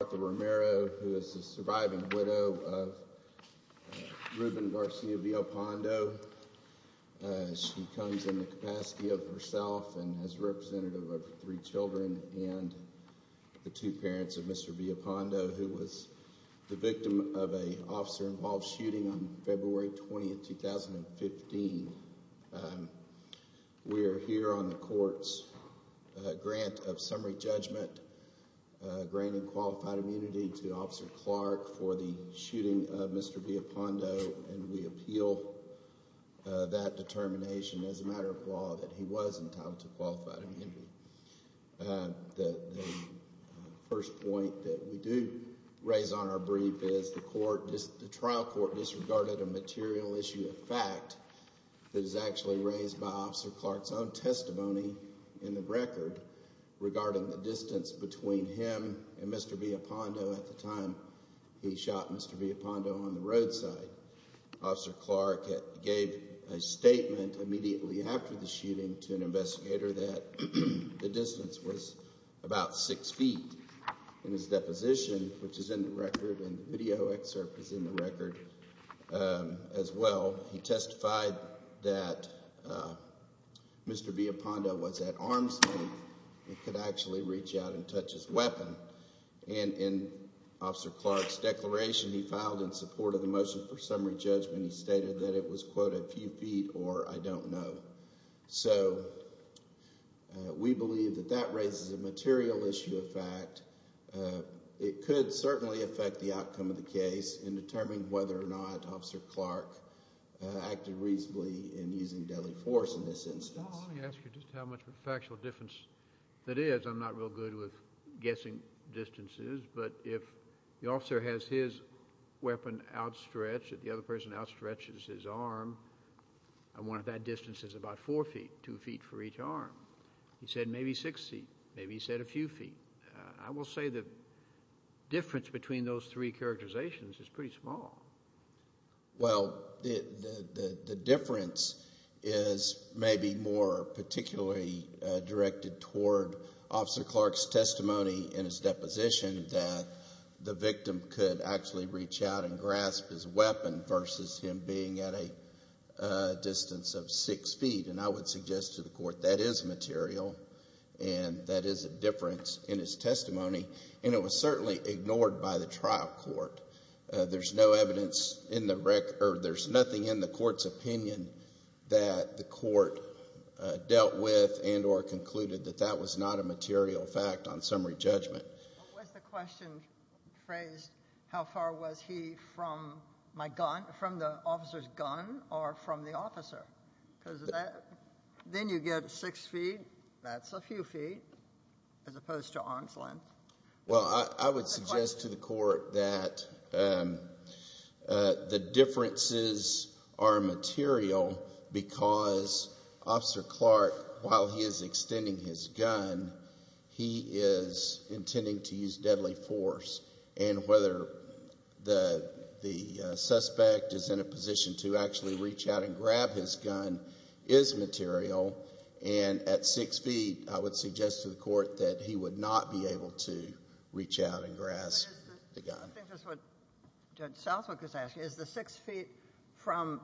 Martha Romero, who is the surviving widow of Ruben Garcia Villalpando. She comes in the capacity of herself and is a representative of three children and the two parents of Mr. Villalpando, who was the victim of an officer-involved shooting on February 20, 2015. We are here on the court's grant of summary judgment, granting qualified immunity to Officer Clark for the shooting of Mr. Villalpando, and we appeal that determination as a matter of law that he was entitled to qualified immunity. The first point that we do raise on our brief is the trial court disregarded a material issue of fact that is actually raised by Officer Clark's own testimony in the record regarding the distance between him and Mr. Villalpando at the time he shot Mr. Villalpando on the roadside. Officer Clark gave a statement immediately after the shooting to an investigator that the distance was about six feet. In his deposition, which is in the record, and the video excerpt is in the record as well, he testified that Mr. Villalpando was at arm's length and could actually reach out and touch his weapon. In Officer Clark's declaration he filed in support of the motion for summary judgment, he stated that it was, quote, a few feet or I don't know. So we believe that that raises a material issue of fact. It could certainly affect the outcome of the case in determining whether or not Officer Clark acted reasonably in using deadly force in this instance. Let me ask you just how much of a factual difference that is. I'm not real good with guessing distances, but if the officer has his weapon outstretched, if the other person outstretches his arm, one of that distance is about four feet, two feet for each arm. He said maybe six feet, maybe he said a few feet. I will say the difference between those three characterizations is pretty small. Well, the difference is maybe more particularly directed toward Officer Clark's testimony in his deposition that the victim could actually reach out and grasp his weapon versus him being at a distance of six feet, and I would suggest to the court that is material and that is a difference in his testimony, and it was certainly ignored by the trial court. There's no evidence in the record, or there's nothing in the court's opinion that the court dealt with and or concluded that that was not a material fact on summary judgment. What was the question phrased, how far was he from my gun, from the officer's gun or from the officer? Because then you get six feet, that's a few feet as opposed to arm's length. Well, I would suggest to the court that the differences are material because Officer Clark, while he is extending his gun, he is intending to use deadly force, and whether the suspect is in a position to actually reach out and grab his gun is material, and at six feet, I would suggest to the court that he would not be able to reach out and grasp the gun. I think that's what Judge Southwick is asking. Is the six feet from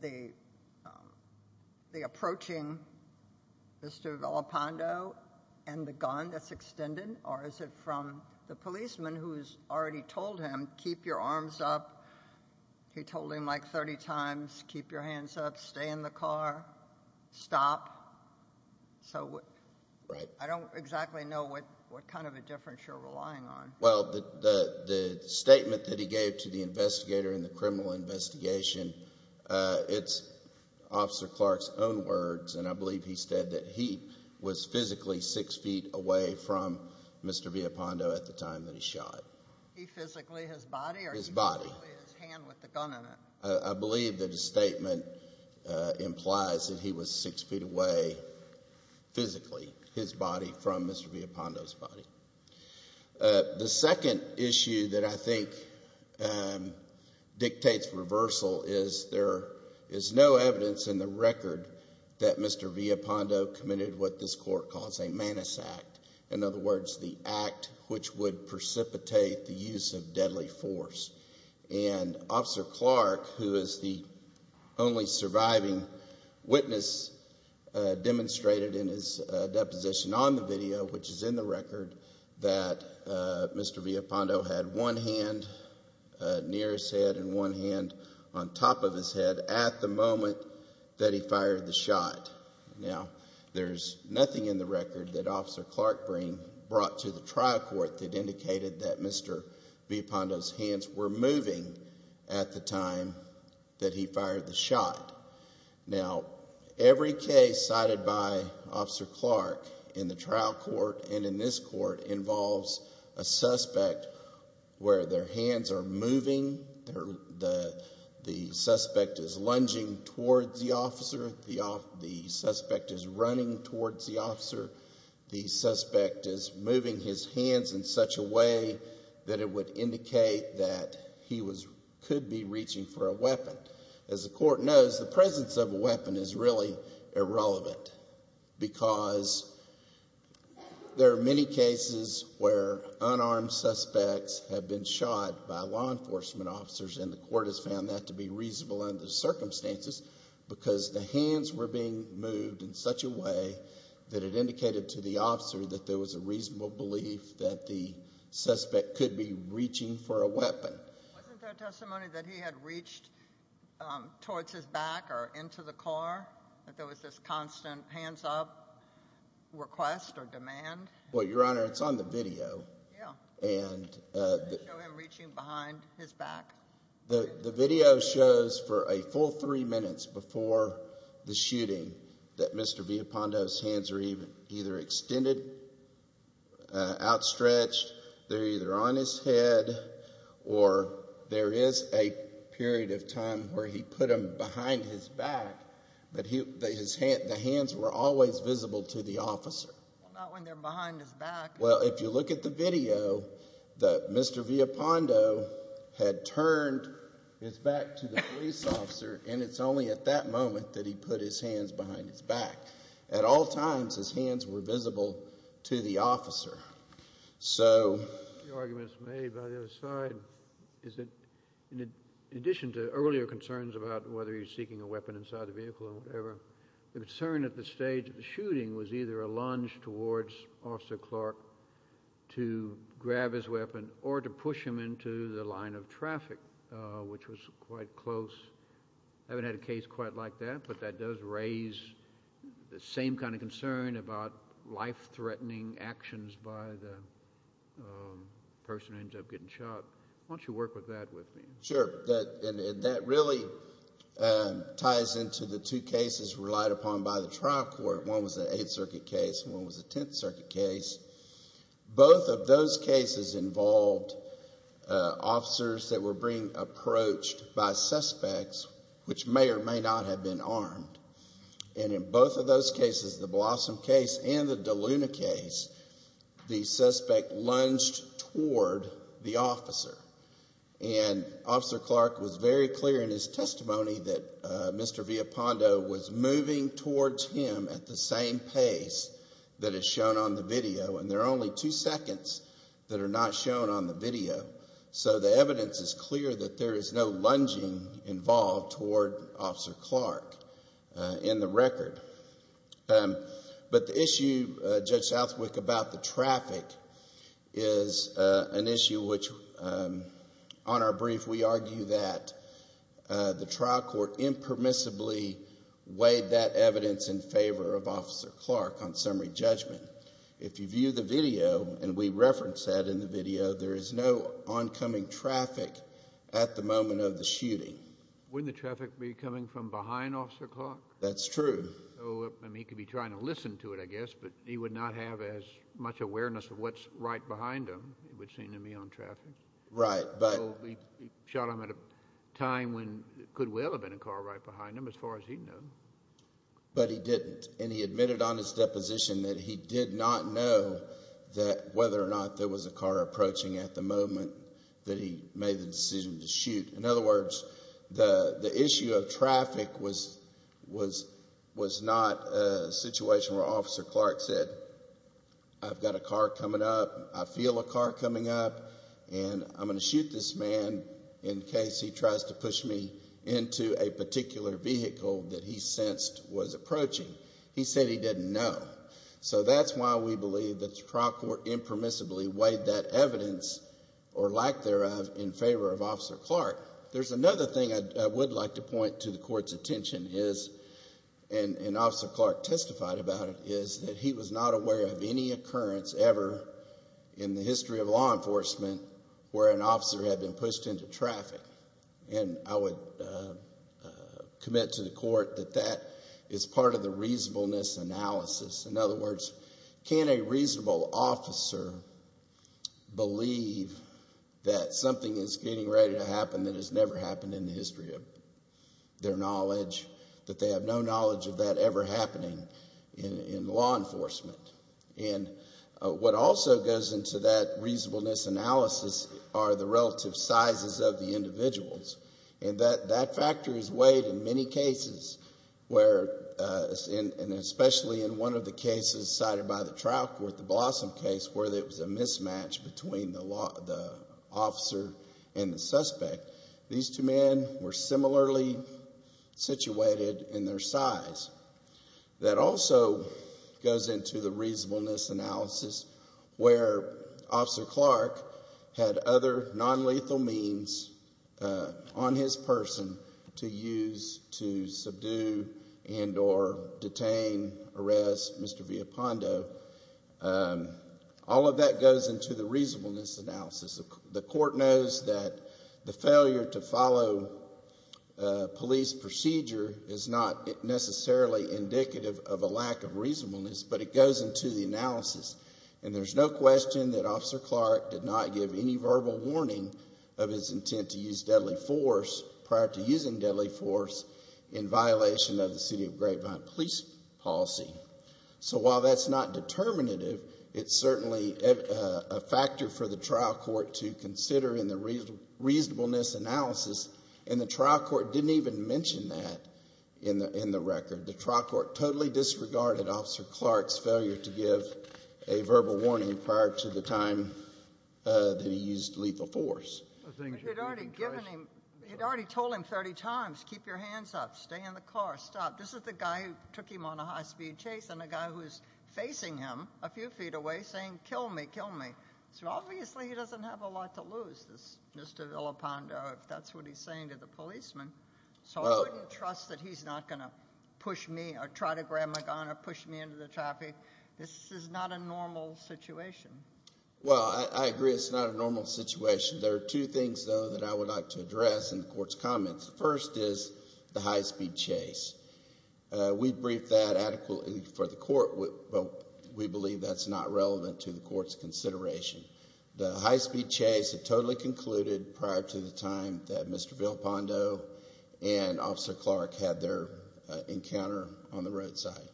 the approaching Mr. Velopondo and the gun that's extended, or is it from the policeman who's already told him, keep your arms up? He told him like 30 times, keep your hands up, stay in the car, stop. So I don't exactly know what kind of a difference you're relying on. Well, the statement that he gave to the investigator in the criminal investigation, it's Officer Clark's own words, and I believe he said that he was physically six feet away from Mr. Velopondo at the time that he shot. He physically, his body? His body. His hand with the gun in it. I believe that his statement implies that he was six feet away physically, his body, from Mr. Velopondo's body. The second issue that I think dictates reversal is there is no evidence in the record that Mr. Velopondo committed what this court calls a manus act, in other words, the act which would precipitate the use of deadly force. And Officer Clark, who is the only surviving witness demonstrated in his deposition on the video, which is in the record, that Mr. Velopondo had one hand near his head and one hand on top of his head at the moment that he fired the shot. Now, there's nothing in the record that Officer Clark brought to the trial court that indicated that Mr. Velopondo's hands were moving at the time that he fired the shot. Now, every case cited by Officer Clark in the trial court and in this court involves a suspect where their hands are moving, the suspect is lunging towards the officer, the suspect is running towards the officer, the suspect is moving his hands in such a way that it would indicate that he could be reaching for a weapon. As the court knows, the presence of a weapon is really irrelevant because there are many cases where unarmed suspects have been shot by law enforcement officers and the court has found that to be reasonable under the circumstances because the hands were being moved in such a way that it indicated to the officer that there was a reasonable belief that the suspect could be reaching for a weapon. Wasn't there testimony that he had reached towards his back or into the car, that there was this constant hands up request or demand? Well, Your Honor, it's on the video. Did they show him reaching behind his back? The video shows for a full three minutes before the shooting that Mr. Velopondo's hands are either extended, outstretched, they're either on his head, or there is a period of time where he put them behind his back, but the hands were always visible to the officer. Well, not when they're behind his back. Well, if you look at the video, Mr. Velopondo had turned his back to the police officer, and it's only at that moment that he put his hands behind his back. At all times, his hands were visible to the officer. The argument that's made by the other side is that in addition to earlier concerns about whether he was seeking a weapon inside the vehicle or whatever, the concern at the stage of the shooting was either a lunge towards Officer Clark to grab his weapon or to push him into the line of traffic, which was quite close. I haven't had a case quite like that, but that does raise the same kind of concern about life-threatening actions by the person who ends up getting shot. Why don't you work with that with me? Sure. And that really ties into the two cases relied upon by the trial court. One was an Eighth Circuit case and one was a Tenth Circuit case. Both of those cases involved officers that were being approached by suspects, which may or may not have been armed. And in both of those cases, the Blossom case and the DeLuna case, the suspect lunged toward the officer. And Officer Clark was very clear in his testimony that Mr. Villapando was moving towards him at the same pace that is shown on the video, and there are only two seconds that are not shown on the video. So the evidence is clear that there is no lunging involved toward Officer Clark in the record. But the issue, Judge Southwick, about the traffic is an issue which, on our brief, we argue that the trial court impermissibly weighed that evidence in favor of Officer Clark on summary judgment. If you view the video, and we reference that in the video, there is no oncoming traffic at the moment of the shooting. Wouldn't the traffic be coming from behind Officer Clark? That's true. He could be trying to listen to it, I guess, but he would not have as much awareness of what's right behind him, it would seem to me, on traffic. Right. So he shot him at a time when it could well have been a car right behind him, as far as he knew. But he didn't, and he admitted on his deposition that he did not know whether or not there was a car approaching at the moment that he made the decision to shoot. In other words, the issue of traffic was not a situation where Officer Clark said, I've got a car coming up, I feel a car coming up, and I'm going to shoot this man in case he tries to push me into a particular vehicle that he sensed was approaching. He said he didn't know. So that's why we believe that the trial court impermissibly weighed that evidence, or lack thereof, in favor of Officer Clark. There's another thing I would like to point to the Court's attention is, and Officer Clark testified about it, is that he was not aware of any occurrence ever in the history of law enforcement where an officer had been pushed into traffic. And I would commit to the Court that that is part of the reasonableness analysis. In other words, can a reasonable officer believe that something is getting ready to happen that has never happened in the history of their knowledge, that they have no knowledge of that ever happening in law enforcement? And what also goes into that reasonableness analysis are the relative sizes of the individuals. And that factor is weighed in many cases, and especially in one of the cases cited by the trial court, the Blossom case, where there was a mismatch between the officer and the suspect. These two men were similarly situated in their size. That also goes into the reasonableness analysis where Officer Clark had other nonlethal means on his person to use to subdue and or detain, arrest Mr. Villapando. All of that goes into the reasonableness analysis. The Court knows that the failure to follow police procedure is not necessarily indicative of a lack of reasonableness, but it goes into the analysis. And there's no question that Officer Clark did not give any verbal warning of his intent to use deadly force prior to using deadly force in violation of the City of Grapevine police policy. So while that's not determinative, it's certainly a factor for the trial court to consider in the reasonableness analysis. And the trial court didn't even mention that in the record. The trial court totally disregarded Officer Clark's failure to give a verbal warning prior to the time that he used lethal force. He had already told him 30 times, keep your hands up, stay in the car, stop. This is the guy who took him on a high-speed chase and the guy who's facing him a few feet away saying, kill me, kill me. So obviously he doesn't have a lot to lose, Mr. Villapando, if that's what he's saying to the policeman. So I wouldn't trust that he's not going to push me or try to grab my gun or push me into the traffic. This is not a normal situation. Well, I agree it's not a normal situation. There are two things, though, that I would like to address in the Court's comments. The first is the high-speed chase. We briefed that adequately for the Court, but we believe that's not relevant to the Court's consideration. The high-speed chase had totally concluded prior to the time that Mr. Villapando and Officer Clark had their encounter on the roadside.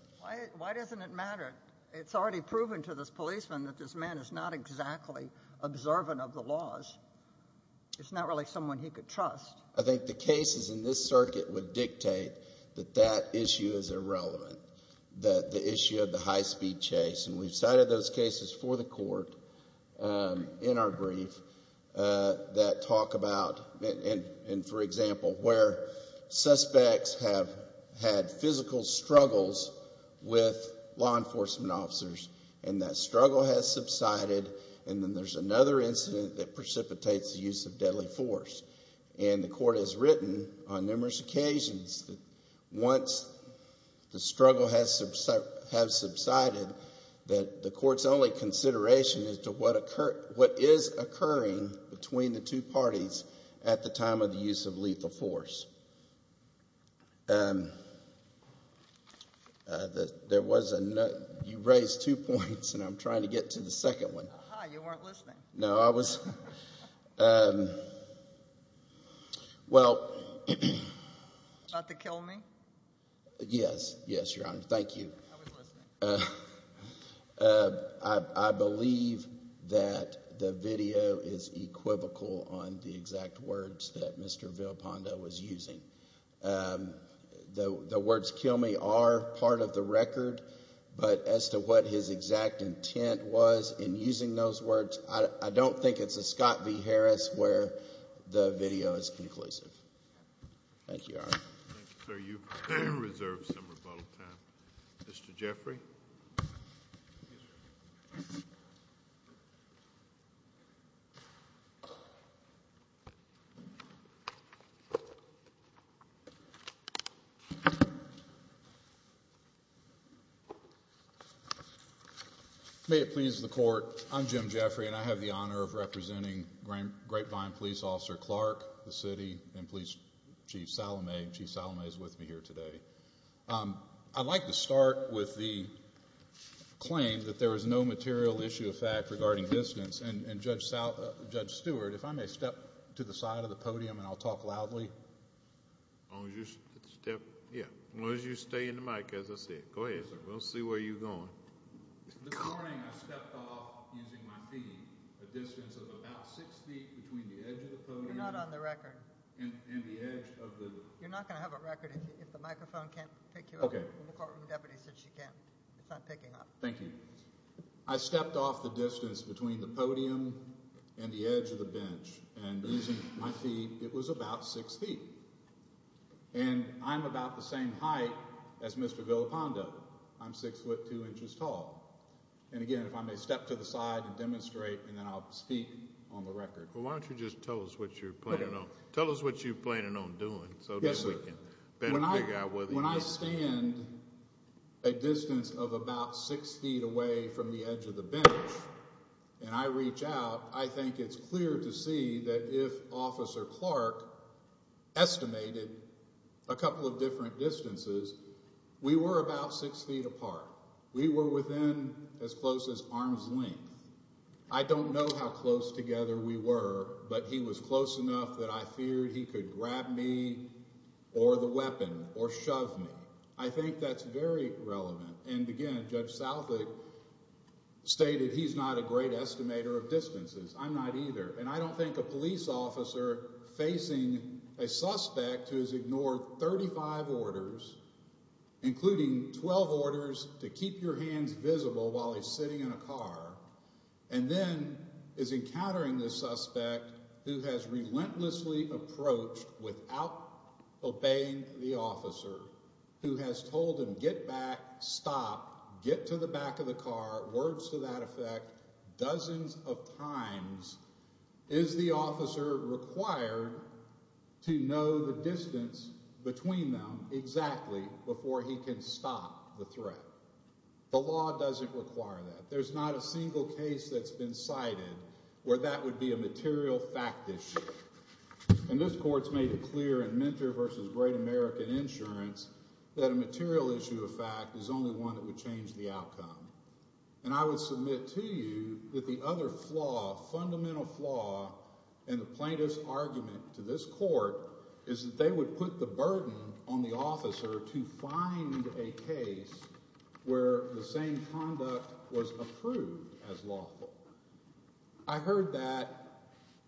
Why doesn't it matter? It's already proven to this policeman that this man is not exactly observant of the laws. It's not really someone he could trust. I think the cases in this circuit would dictate that that issue is irrelevant, the issue of the high-speed chase. And we've cited those cases for the Court in our brief that talk about, and for example, where suspects have had physical struggles with law enforcement officers, and that struggle has subsided, and then there's another incident that precipitates the use of deadly force. And the Court has written on numerous occasions that once the struggle has subsided, that the Court's only consideration is to what is occurring between the two parties at the time of the use of lethal force. You raised two points, and I'm trying to get to the second one. You weren't listening. No, I was. Well. About the kill me? Yes, yes, Your Honor. Thank you. I was listening. I believe that the video is equivocal on the exact words that Mr. Villapando was using. The words kill me are part of the record, but as to what his exact intent was in using those words, I don't think it's a Scott v. Harris where the video is conclusive. Thank you, Your Honor. Thank you, sir. You've reserved some rebuttal time. Mr. Jeffrey? Yes, sir. May it please the Court, I'm Jim Jeffrey, and I have the honor of representing Grapevine Police Officer Clark, the city, and Police Chief Salome. Chief Salome is with me here today. I'd like to start with the claim that there is no material issue of fact regarding distance, and Judge Stewart, if I may step to the side of the podium and I'll talk loudly. As long as you stay in the mic, as I said. Go ahead. We'll see where you're going. This morning I stepped off using my feet a distance of about six feet between the edge of the podium You're not on the record. and the edge of the You're not going to have a record if the microphone can't pick you up. The courtroom deputy said she can. It's not picking up. Thank you. I stepped off the distance between the podium and the edge of the bench, and using my feet, it was about six feet. And I'm about the same height as Mr. Villapando. I'm six foot two inches tall. And again, if I may step to the side and demonstrate, and then I'll speak on the record. Well, why don't you just tell us what you're planning on doing. Yes, sir. When I stand a distance of about six feet away from the edge of the bench, and I reach out, I think it's clear to see that if Officer Clark estimated a couple of different distances, we were about six feet apart. We were within as close as arm's length. I don't know how close together we were, but he was close enough that I feared he could grab me or the weapon or shove me. I think that's very relevant. And again, Judge Southwick stated he's not a great estimator of distances. I'm not either. And I don't think a police officer facing a suspect who has ignored 35 orders, including 12 orders to keep your hands visible while he's sitting in a car, and then is encountering the suspect who has relentlessly approached without obeying the officer, who has told him get back, stop, get to the back of the car, words to that effect, dozens of times, is the officer required to know the distance between them exactly before he can stop the threat? The law doesn't require that. There's not a single case that's been cited where that would be a material fact issue. And this Court's made it clear in Mentor v. Great American Insurance that a material issue of fact is only one that would change the outcome. And I would submit to you that the other flaw, fundamental flaw, in the plaintiff's argument to this Court is that they would put the burden on the officer to find a case where the same conduct was approved as lawful. I heard that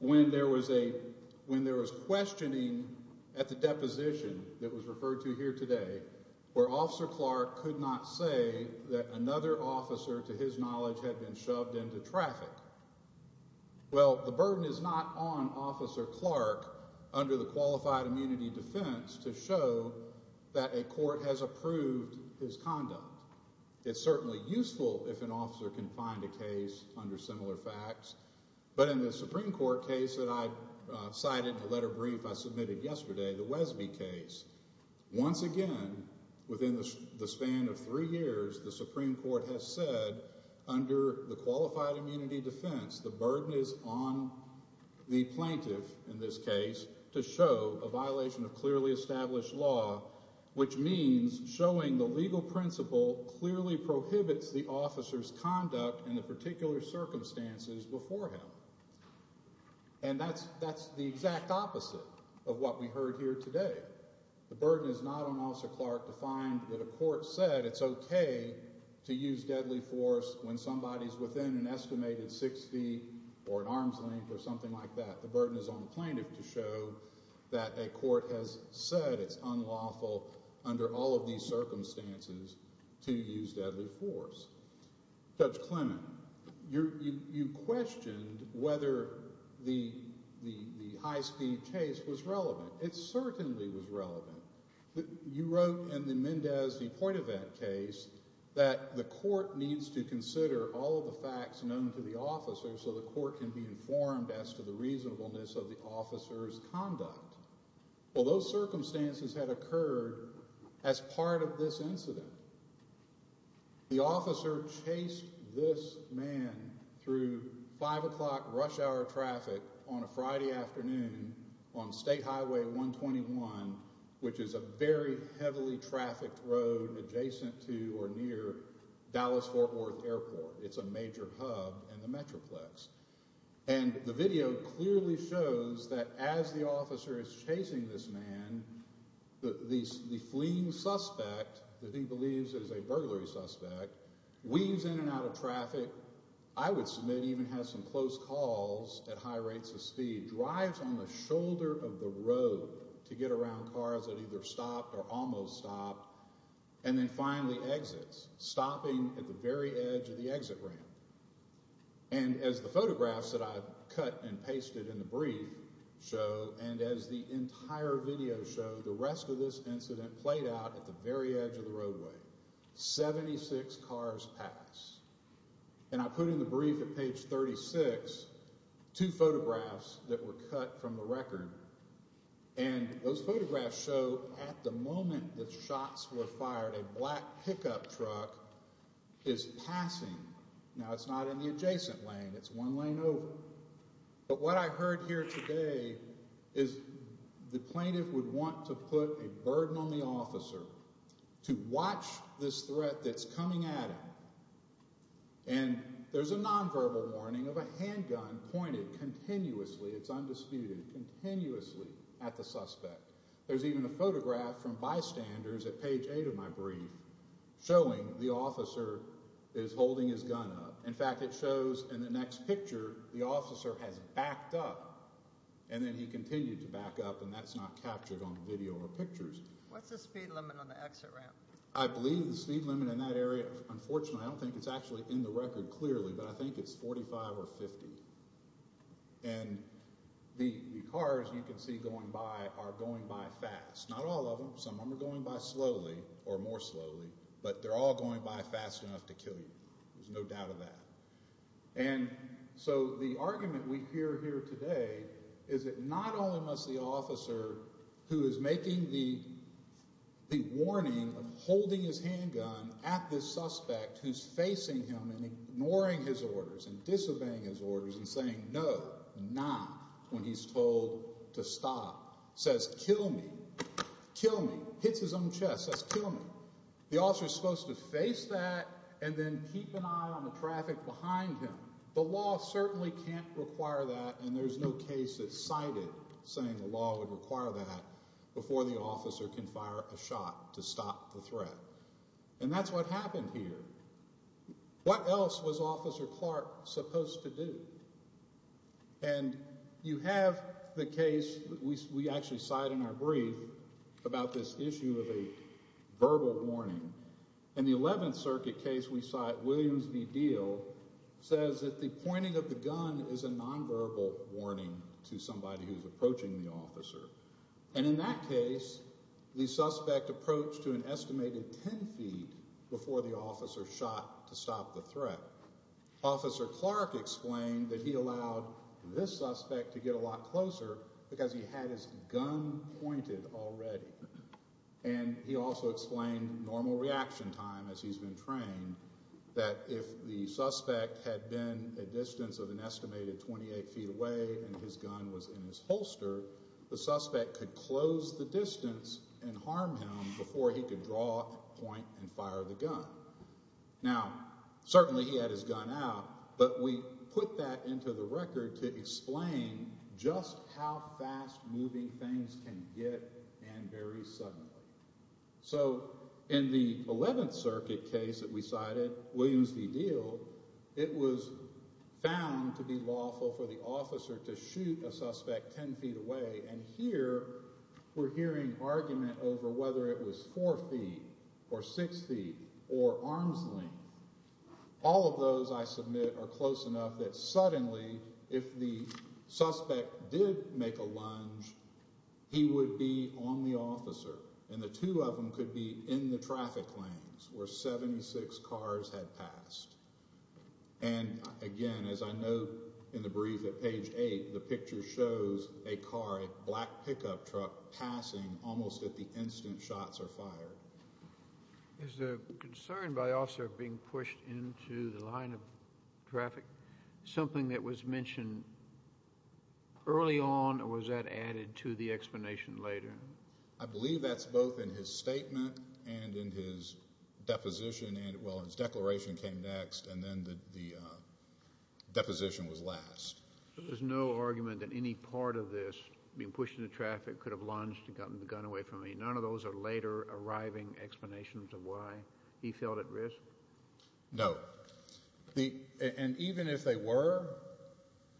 when there was questioning at the deposition that was referred to here today where Officer Clark could not say that another officer, to his knowledge, had been shoved into traffic. Well, the burden is not on Officer Clark under the Qualified Immunity Defense to show that a court has approved his conduct. It's certainly useful if an officer can find a case under similar facts. But in the Supreme Court case that I cited in a letter brief I submitted yesterday, the Wesby case, once again, within the span of three years, the Supreme Court has said under the Qualified Immunity Defense the burden is on the plaintiff, in this case, to show a violation of clearly established law, which means showing the legal principle clearly prohibits the officer's conduct in the particular circumstances before him. And that's the exact opposite of what we heard here today. The burden is not on Officer Clark to find that a court said it's okay to use deadly force when somebody's within an estimated six feet or an arm's length or something like that. The burden is on the plaintiff to show that a court has said it's unlawful under all of these circumstances to use deadly force. Judge Clement, you questioned whether the high-speed chase was relevant. It certainly was relevant. You wrote in the Mendez v. Poitouvet case that the court needs to consider all of the facts known to the officer so the court can be informed as to the reasonableness of the officer's conduct. Well, those circumstances had occurred as part of this incident. The officer chased this man through 5 o'clock rush hour traffic on a Friday afternoon on State Highway 121, which is a very heavily trafficked road adjacent to or near Dallas-Fort Worth Airport. It's a major hub in the Metroplex. And the video clearly shows that as the officer is chasing this man, the fleeing suspect that he believes is a burglary suspect weaves in and out of traffic. The officer, I would submit even has some close calls at high rates of speed, drives on the shoulder of the road to get around cars that either stopped or almost stopped and then finally exits, stopping at the very edge of the exit ramp. And as the photographs that I've cut and pasted in the brief show and as the entire video show, the rest of this incident played out at the very edge of the roadway. Seventy-six cars passed. And I put in the brief at page 36 two photographs that were cut from the record. And those photographs show at the moment that shots were fired, a black pickup truck is passing. Now, it's not in the adjacent lane. It's one lane over. But what I heard here today is the plaintiff would want to put a burden on the officer to watch this threat that's coming at him. And there's a nonverbal warning of a handgun pointed continuously, it's undisputed, continuously at the suspect. There's even a photograph from bystanders at page 8 of my brief showing the officer is holding his gun up. In fact, it shows in the next picture the officer has backed up, and then he continued to back up, and that's not captured on the video or pictures. What's the speed limit on the exit ramp? I believe the speed limit in that area, unfortunately, I don't think it's actually in the record clearly, but I think it's 45 or 50. And the cars you can see going by are going by fast. Not all of them. Some of them are going by slowly or more slowly. But they're all going by fast enough to kill you. There's no doubt of that. And so the argument we hear here today is that not only must the officer who is making the warning of holding his handgun at this suspect who's facing him and ignoring his orders and disobeying his orders and saying no, not, when he's told to stop, says kill me, kill me, hits his own chest, says kill me. The officer is supposed to face that and then keep an eye on the traffic behind him. The law certainly can't require that, and there's no case that cited saying the law would require that before the officer can fire a shot to stop the threat. And that's what happened here. What else was Officer Clark supposed to do? And you have the case we actually cite in our brief about this issue of a verbal warning. In the 11th Circuit case we cite, Williams v. Deal, says that the pointing of the gun is a nonverbal warning to somebody who's approaching the officer. And in that case the suspect approached to an estimated ten feet before the officer shot to stop the threat. Officer Clark explained that he allowed this suspect to get a lot closer because he had his gun pointed already. And he also explained normal reaction time as he's been trained that if the suspect had been a distance of an estimated 28 feet away and his gun was in his holster, the suspect could close the distance and harm him before he could draw, point, and fire the gun. Now, certainly he had his gun out, but we put that into the record to explain just how fast moving things can get and very suddenly. So in the 11th Circuit case that we cited, Williams v. Deal, it was found to be lawful for the officer to shoot a suspect ten feet away. And here we're hearing argument over whether it was four feet or six feet or arm's length. All of those, I submit, are close enough that suddenly if the suspect did make a lunge, he would be on the officer, and the two of them could be in the traffic lanes where 76 cars had passed. And again, as I know in the brief at page 8, the picture shows a car, a black pickup truck passing almost at the instant shots are fired. Is the concern by officer of being pushed into the line of traffic something that was mentioned early on, or was that added to the explanation later? I believe that's both in his statement and in his deposition. Well, his declaration came next, and then the deposition was last. There's no argument that any part of this, being pushed into traffic, could have lunged and gotten the gun away from him. None of those are later arriving explanations of why he felt at risk? No. And even if they were,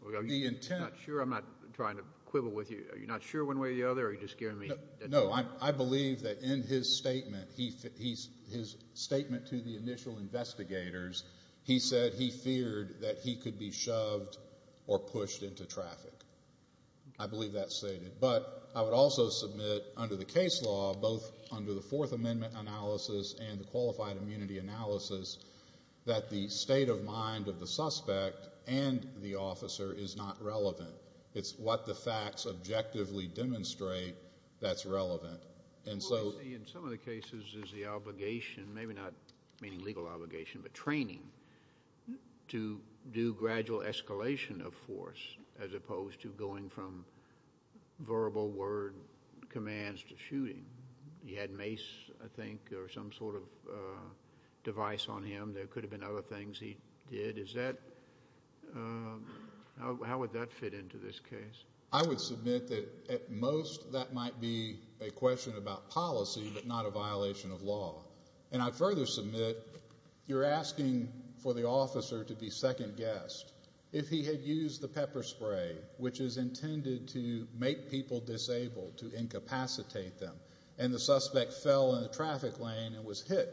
the intent— Are you not sure? I'm not trying to quibble with you. Are you not sure one way or the other, or are you just scaring me? No, I believe that in his statement, his statement to the initial investigators, he said he feared that he could be shoved or pushed into traffic. I believe that's stated. But I would also submit under the case law, both under the Fourth Amendment analysis and the qualified immunity analysis, that the state of mind of the suspect and the officer is not relevant. It's what the facts objectively demonstrate that's relevant. What we see in some of the cases is the obligation, maybe not legal obligation but training, to do gradual escalation of force as opposed to going from verbal word commands to shooting. He had mace, I think, or some sort of device on him. There could have been other things he did. How would that fit into this case? I would submit that at most that might be a question about policy but not a violation of law. And I'd further submit you're asking for the officer to be second-guessed. If he had used the pepper spray, which is intended to make people disabled, to incapacitate them, and the suspect fell in a traffic lane and was hit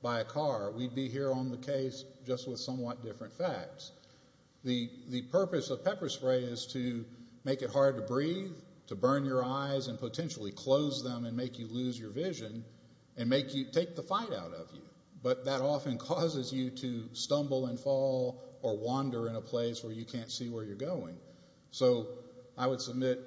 by a car, we'd be here on the case just with somewhat different facts. The purpose of pepper spray is to make it hard to breathe, to burn your eyes and potentially close them and make you lose your vision and take the fight out of you. But that often causes you to stumble and fall or wander in a place where you can't see where you're going. So I would submit,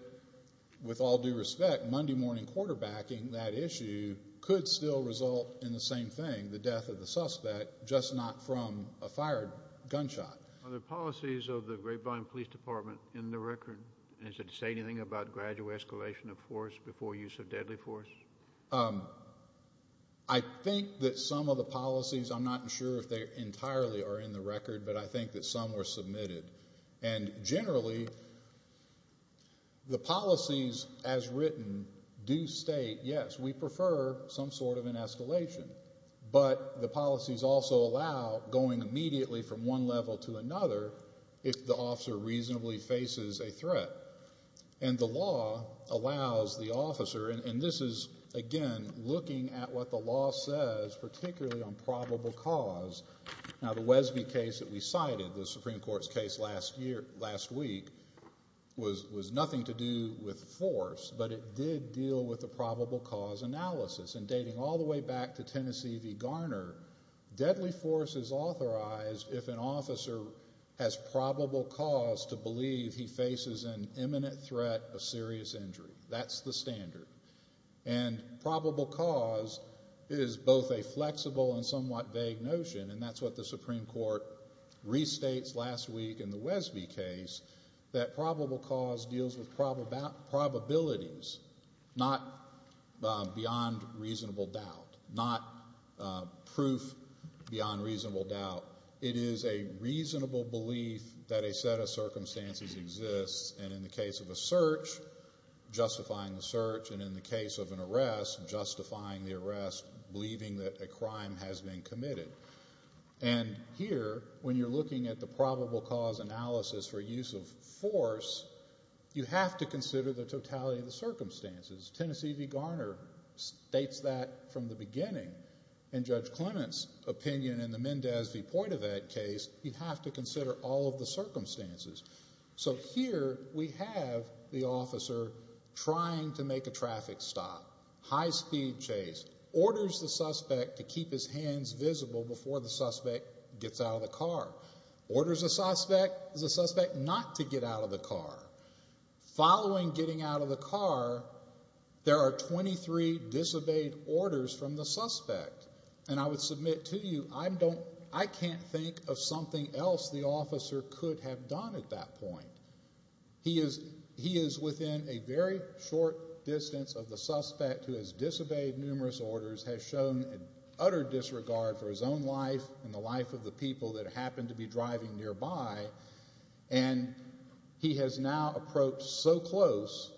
with all due respect, Monday morning quarterbacking that issue could still result in the same thing, the death of the suspect, just not from a fired gunshot. Are the policies of the Grapevine Police Department in the record? Does it say anything about gradual escalation of force before use of deadly force? I think that some of the policies, I'm not sure if they entirely are in the record, but I think that some were submitted. And generally, the policies as written do state, yes, we prefer some sort of an escalation, but the policies also allow going immediately from one level to another if the officer reasonably faces a threat. And the law allows the officer, and this is, again, looking at what the law says, particularly on probable cause. Now, the Wesby case that we cited, the Supreme Court's case last week, was nothing to do with force, but it did deal with the probable cause analysis. And dating all the way back to Tennessee v. Garner, deadly force is authorized if an officer has probable cause to believe he faces an imminent threat of serious injury. That's the standard. And probable cause is both a flexible and somewhat vague notion, and that's what the Supreme Court restates last week in the Wesby case, that probable cause deals with probabilities, not beyond reasonable doubt, not proof beyond reasonable doubt. It is a reasonable belief that a set of circumstances exists, and in the case of a search, justifying the search, and in the case of an arrest, justifying the arrest, believing that a crime has been committed. And here, when you're looking at the probable cause analysis for use of force, you have to consider the totality of the circumstances. Tennessee v. Garner states that from the beginning, and Judge Clement's opinion in the Mendes v. Poitouvet case, you have to consider all of the circumstances. So here we have the officer trying to make a traffic stop, high-speed chase, orders the suspect to keep his hands visible before the suspect gets out of the car, orders the suspect not to get out of the car. Following getting out of the car, there are 23 disobeyed orders from the suspect. And I would submit to you, I can't think of something else the officer could have done at that point. He is within a very short distance of the suspect who has disobeyed numerous orders, has shown an utter disregard for his own life and the life of the people that happen to be driving nearby, and he has now approached so close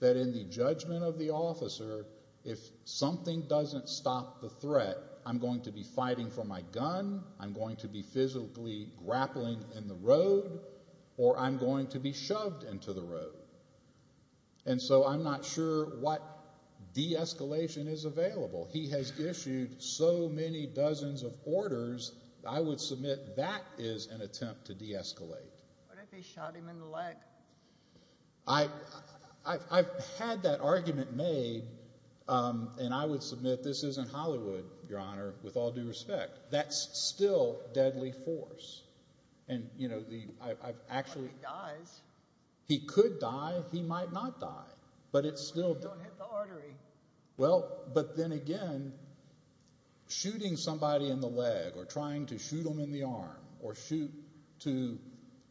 that in the judgment of the officer, if something doesn't stop the threat, I'm going to be fighting for my gun, I'm going to be physically grappling in the road, or I'm going to be shoved into the road. And so I'm not sure what de-escalation is available. He has issued so many dozens of orders. I would submit that is an attempt to de-escalate. What if they shot him in the leg? I've had that argument made, and I would submit this isn't Hollywood, Your Honor, with all due respect. That's still deadly force. And, you know, I've actually... He dies. He could die. He might not die. But it's still... Don't hit the artery. Well, but then again, shooting somebody in the leg or trying to shoot them in the arm or shoot to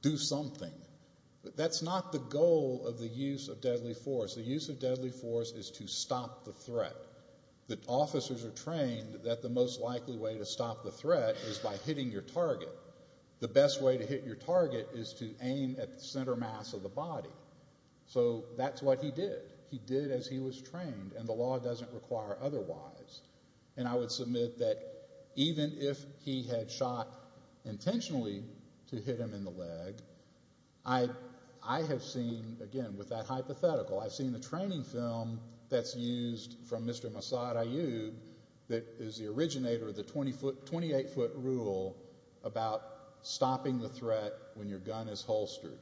do something, that's not the goal of the use of deadly force. The use of deadly force is to stop the threat. The officers are trained that the most likely way to stop the threat is by hitting your target. The best way to hit your target is to aim at the center mass of the body. So that's what he did. He did as he was trained, and the law doesn't require otherwise. And I would submit that even if he had shot intentionally to hit him in the leg, I have seen, again, with that hypothetical, I've seen the training film that's used from Mr. Mossad Ayyub that is the originator of the 28-foot rule about stopping the threat when your gun is holstered.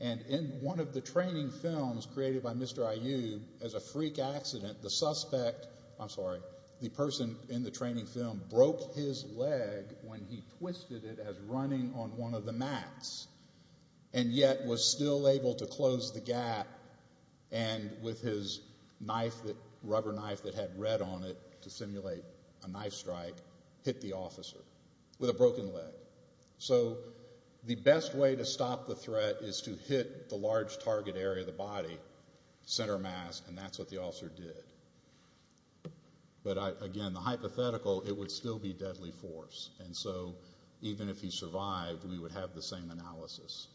And in one of the training films created by Mr. Ayyub, as a freak accident, the suspect... I'm sorry, the person in the training film broke his leg when he twisted it as running on one of the mats and yet was still able to close the gap and with his rubber knife that had red on it to simulate a knife strike, hit the officer with a broken leg. So the best way to stop the threat is to hit the large target area of the body, center mass, and that's what the officer did. But again, the hypothetical, it would still be deadly force. And so even if he survived, we would have the same analysis.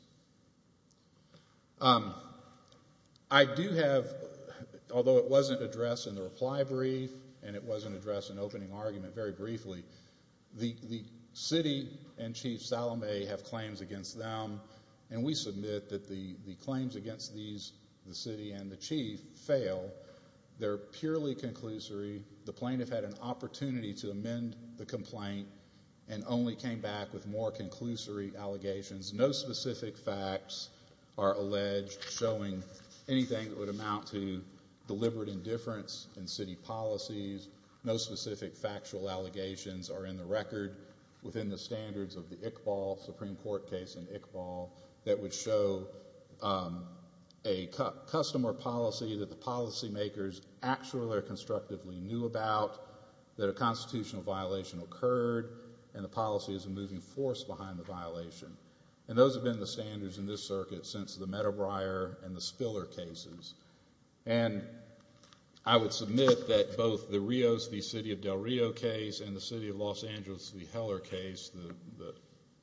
I do have, although it wasn't addressed in the reply brief and it wasn't addressed in opening argument very briefly, the city and Chief Salome have claims against them, and we submit that the claims against the city and the chief fail. They're purely conclusory. The plaintiff had an opportunity to amend the complaint and only came back with more conclusory allegations. No specific facts are alleged showing anything that would amount to deliberate indifference in city policies. No specific factual allegations are in the record within the standards of the Iqbal Supreme Court case in Iqbal that would show a customer policy that the policymakers actually or constructively knew about, that a constitutional violation occurred, and the policy is a moving force behind the violation. And those have been the standards in this circuit since the Meadowbriar and the Spiller cases. And I would submit that both the Rios v. City of Del Rio case and the City of Los Angeles v. Heller case, the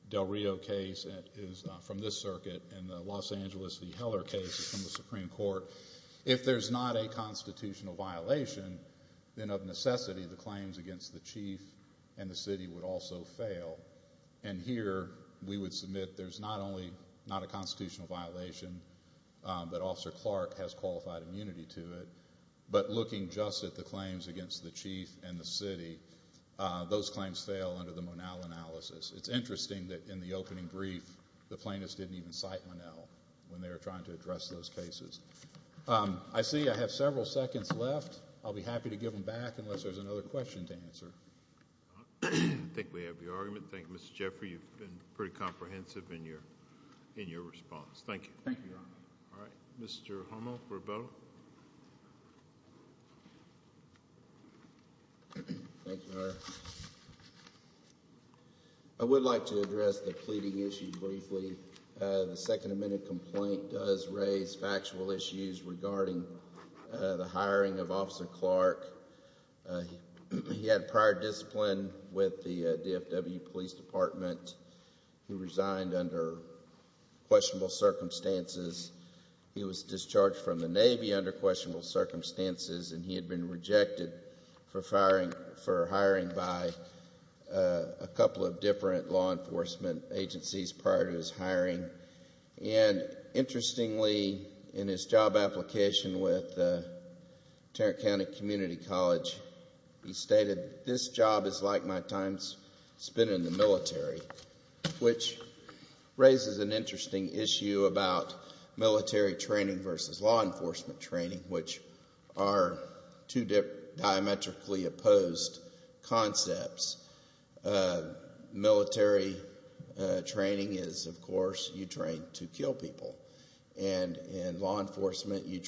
Del Rio case, is from this circuit, and the Los Angeles v. Heller case is from the Supreme Court. If there's not a constitutional violation, then of necessity, the claims against the chief and the city would also fail. And here we would submit there's not only not a constitutional violation, that Officer Clark has qualified immunity to it, but looking just at the claims against the chief and the city, those claims fail under the Monal analysis. It's interesting that in the opening brief, the plaintiffs didn't even cite Monal when they were trying to address those cases. I see I have several seconds left. I'll be happy to give them back unless there's another question to answer. I think we have your argument. Thank you, Mr. Jeffrey. You've been pretty comprehensive in your response. Thank you. Thank you, Your Honor. All right. Mr. Hummel, Roberto. Mr. Hummel. Thank you, Your Honor. I would like to address the pleading issue briefly. The Second Amendment complaint does raise factual issues regarding the hiring of Officer Clark. He had prior discipline with the DFW Police Department. He resigned under questionable circumstances. He was discharged from the Navy under questionable circumstances, and he had been rejected for hiring by a couple of different law enforcement agencies prior to his hiring. Interestingly, in his job application with Tarrant County Community College, he stated, this job is like my time spent in the military, which raises an interesting issue about military training versus law enforcement training, which are two diametrically opposed concepts. Military training is, of course, you train to kill people. In law enforcement, you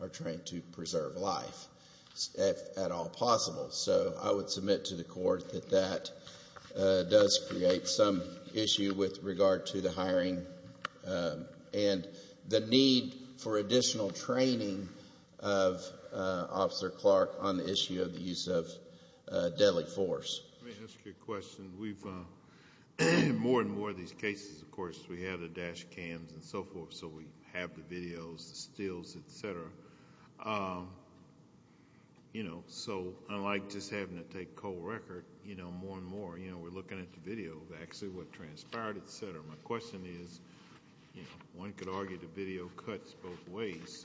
are trained to preserve life, if at all possible. I would submit to the court that that does create some issue with regard to the hiring and the need for additional training of Officer Clark on the issue of the use of deadly force. Let me ask you a question. More and more of these cases, of course, we have the dash cams and so forth, so unlike just having to take cold record, more and more, we're looking at the video of actually what transpired, et cetera. My question is, one could argue the video cuts both ways.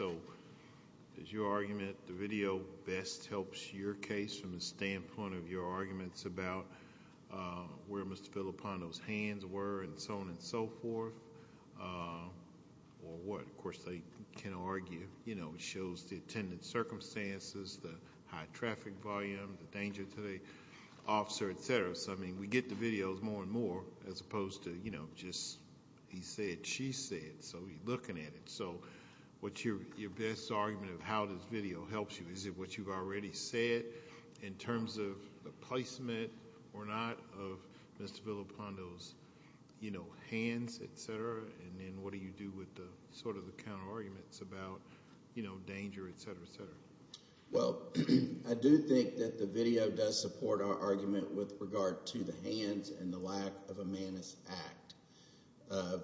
Is your argument the video best helps your case from the standpoint of your arguments about where Mr. Filippondo's hands were, and so on and so forth, or what? Of course, they can argue. It shows the attendant circumstances, the high traffic volume, the danger to the officer, et cetera. We get the videos more and more as opposed to just he said, she said, so we're looking at it. What's your best argument of how this video helps you? Is it what you've already said in terms of the placement or not of Mr. Filippondo's hands, et cetera? Then what do you do with the counter arguments about danger, et cetera, et cetera? Well, I do think that the video does support our argument with regard to the hands and the lack of a manus act of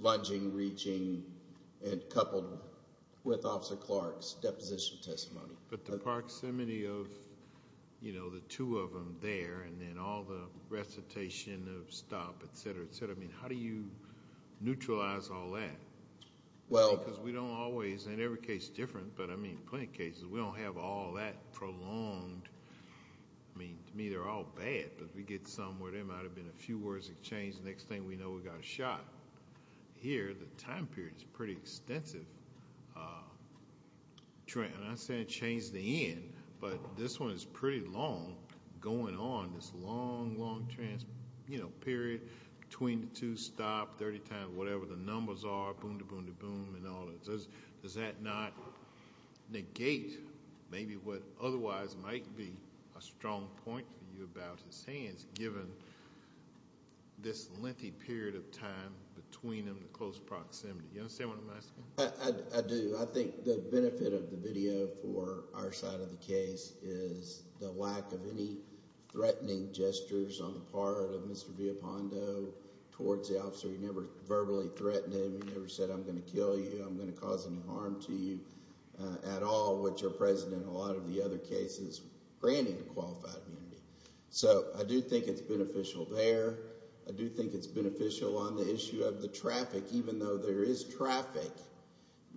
lunging, reaching, and coupled with Officer Clark's deposition testimony. But the proximity of the two of them there, and then all the recitation of stop, et cetera, et cetera, I mean, how do you neutralize all that? Because we don't always, and every case is different, but I mean, plenty of cases we don't have all that prolonged. I mean, to me they're all bad, but if we get some where there might have been a few words that changed, the next thing we know we've got a shot. Here, the time period is pretty extensive. I'm not saying it changed the end, but this one is pretty long going on, this long, long period between the two, stop 30 times, whatever the numbers are, boom-de-boom-de-boom and all that. Does that not negate maybe what otherwise might be a strong point for you about his hands given this lengthy period of time between them in close proximity? You understand what I'm asking? I do. I think the benefit of the video for our side of the case is the lack of any threatening gestures on the part of Mr. Villapando towards the officer. He never verbally threatened him. He never said, I'm going to kill you, I'm going to cause any harm to you at all, which our president in a lot of the other cases granted a qualified immunity. So I do think it's beneficial there. I do think it's beneficial on the issue of the traffic, even though there is traffic.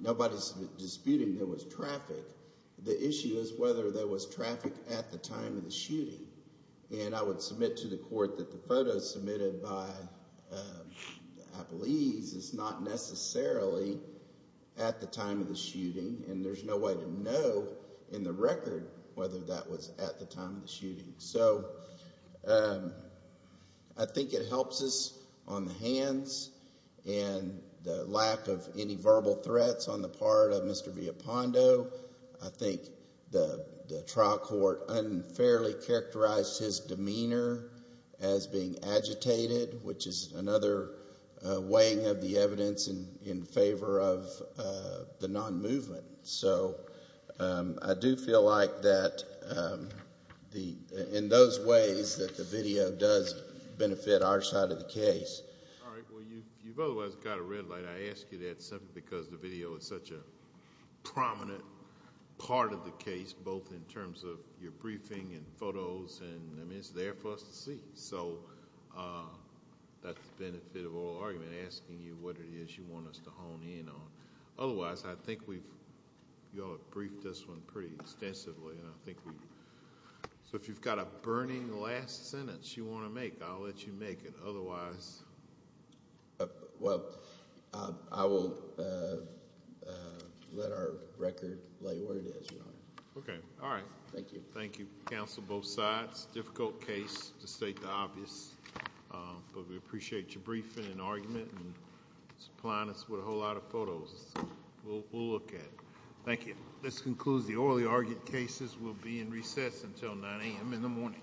Nobody's disputing there was traffic. The issue is whether there was traffic at the time of the shooting. And I would submit to the court that the photo submitted by the Appleese is not necessarily at the time of the shooting, and there's no way to know in the record whether that was at the time of the shooting. And the lack of any verbal threats on the part of Mr. Villapando, I think the trial court unfairly characterized his demeanor as being agitated, which is another weighing of the evidence in favor of the non-movement. So I do feel like that in those ways that the video does benefit our side of the case. All right. Well, you've otherwise got a red light. I ask you that simply because the video is such a prominent part of the case, both in terms of your briefing and photos. I mean, it's there for us to see. So that's the benefit of oral argument, asking you what it is you want us to hone in on. Otherwise, I think we've briefed this one pretty extensively. So if you've got a burning last sentence you want to make, I'll let you make it. Otherwise. Well, I will let our record lay where it is, Your Honor. Okay. All right. Thank you. Thank you, counsel, both sides. Difficult case to state the obvious. But we appreciate your briefing and argument and supplying us with a whole lot of photos. We'll look at it. Thank you. This concludes the oral argument cases. We'll be in recess until 9 a.m. in the morning.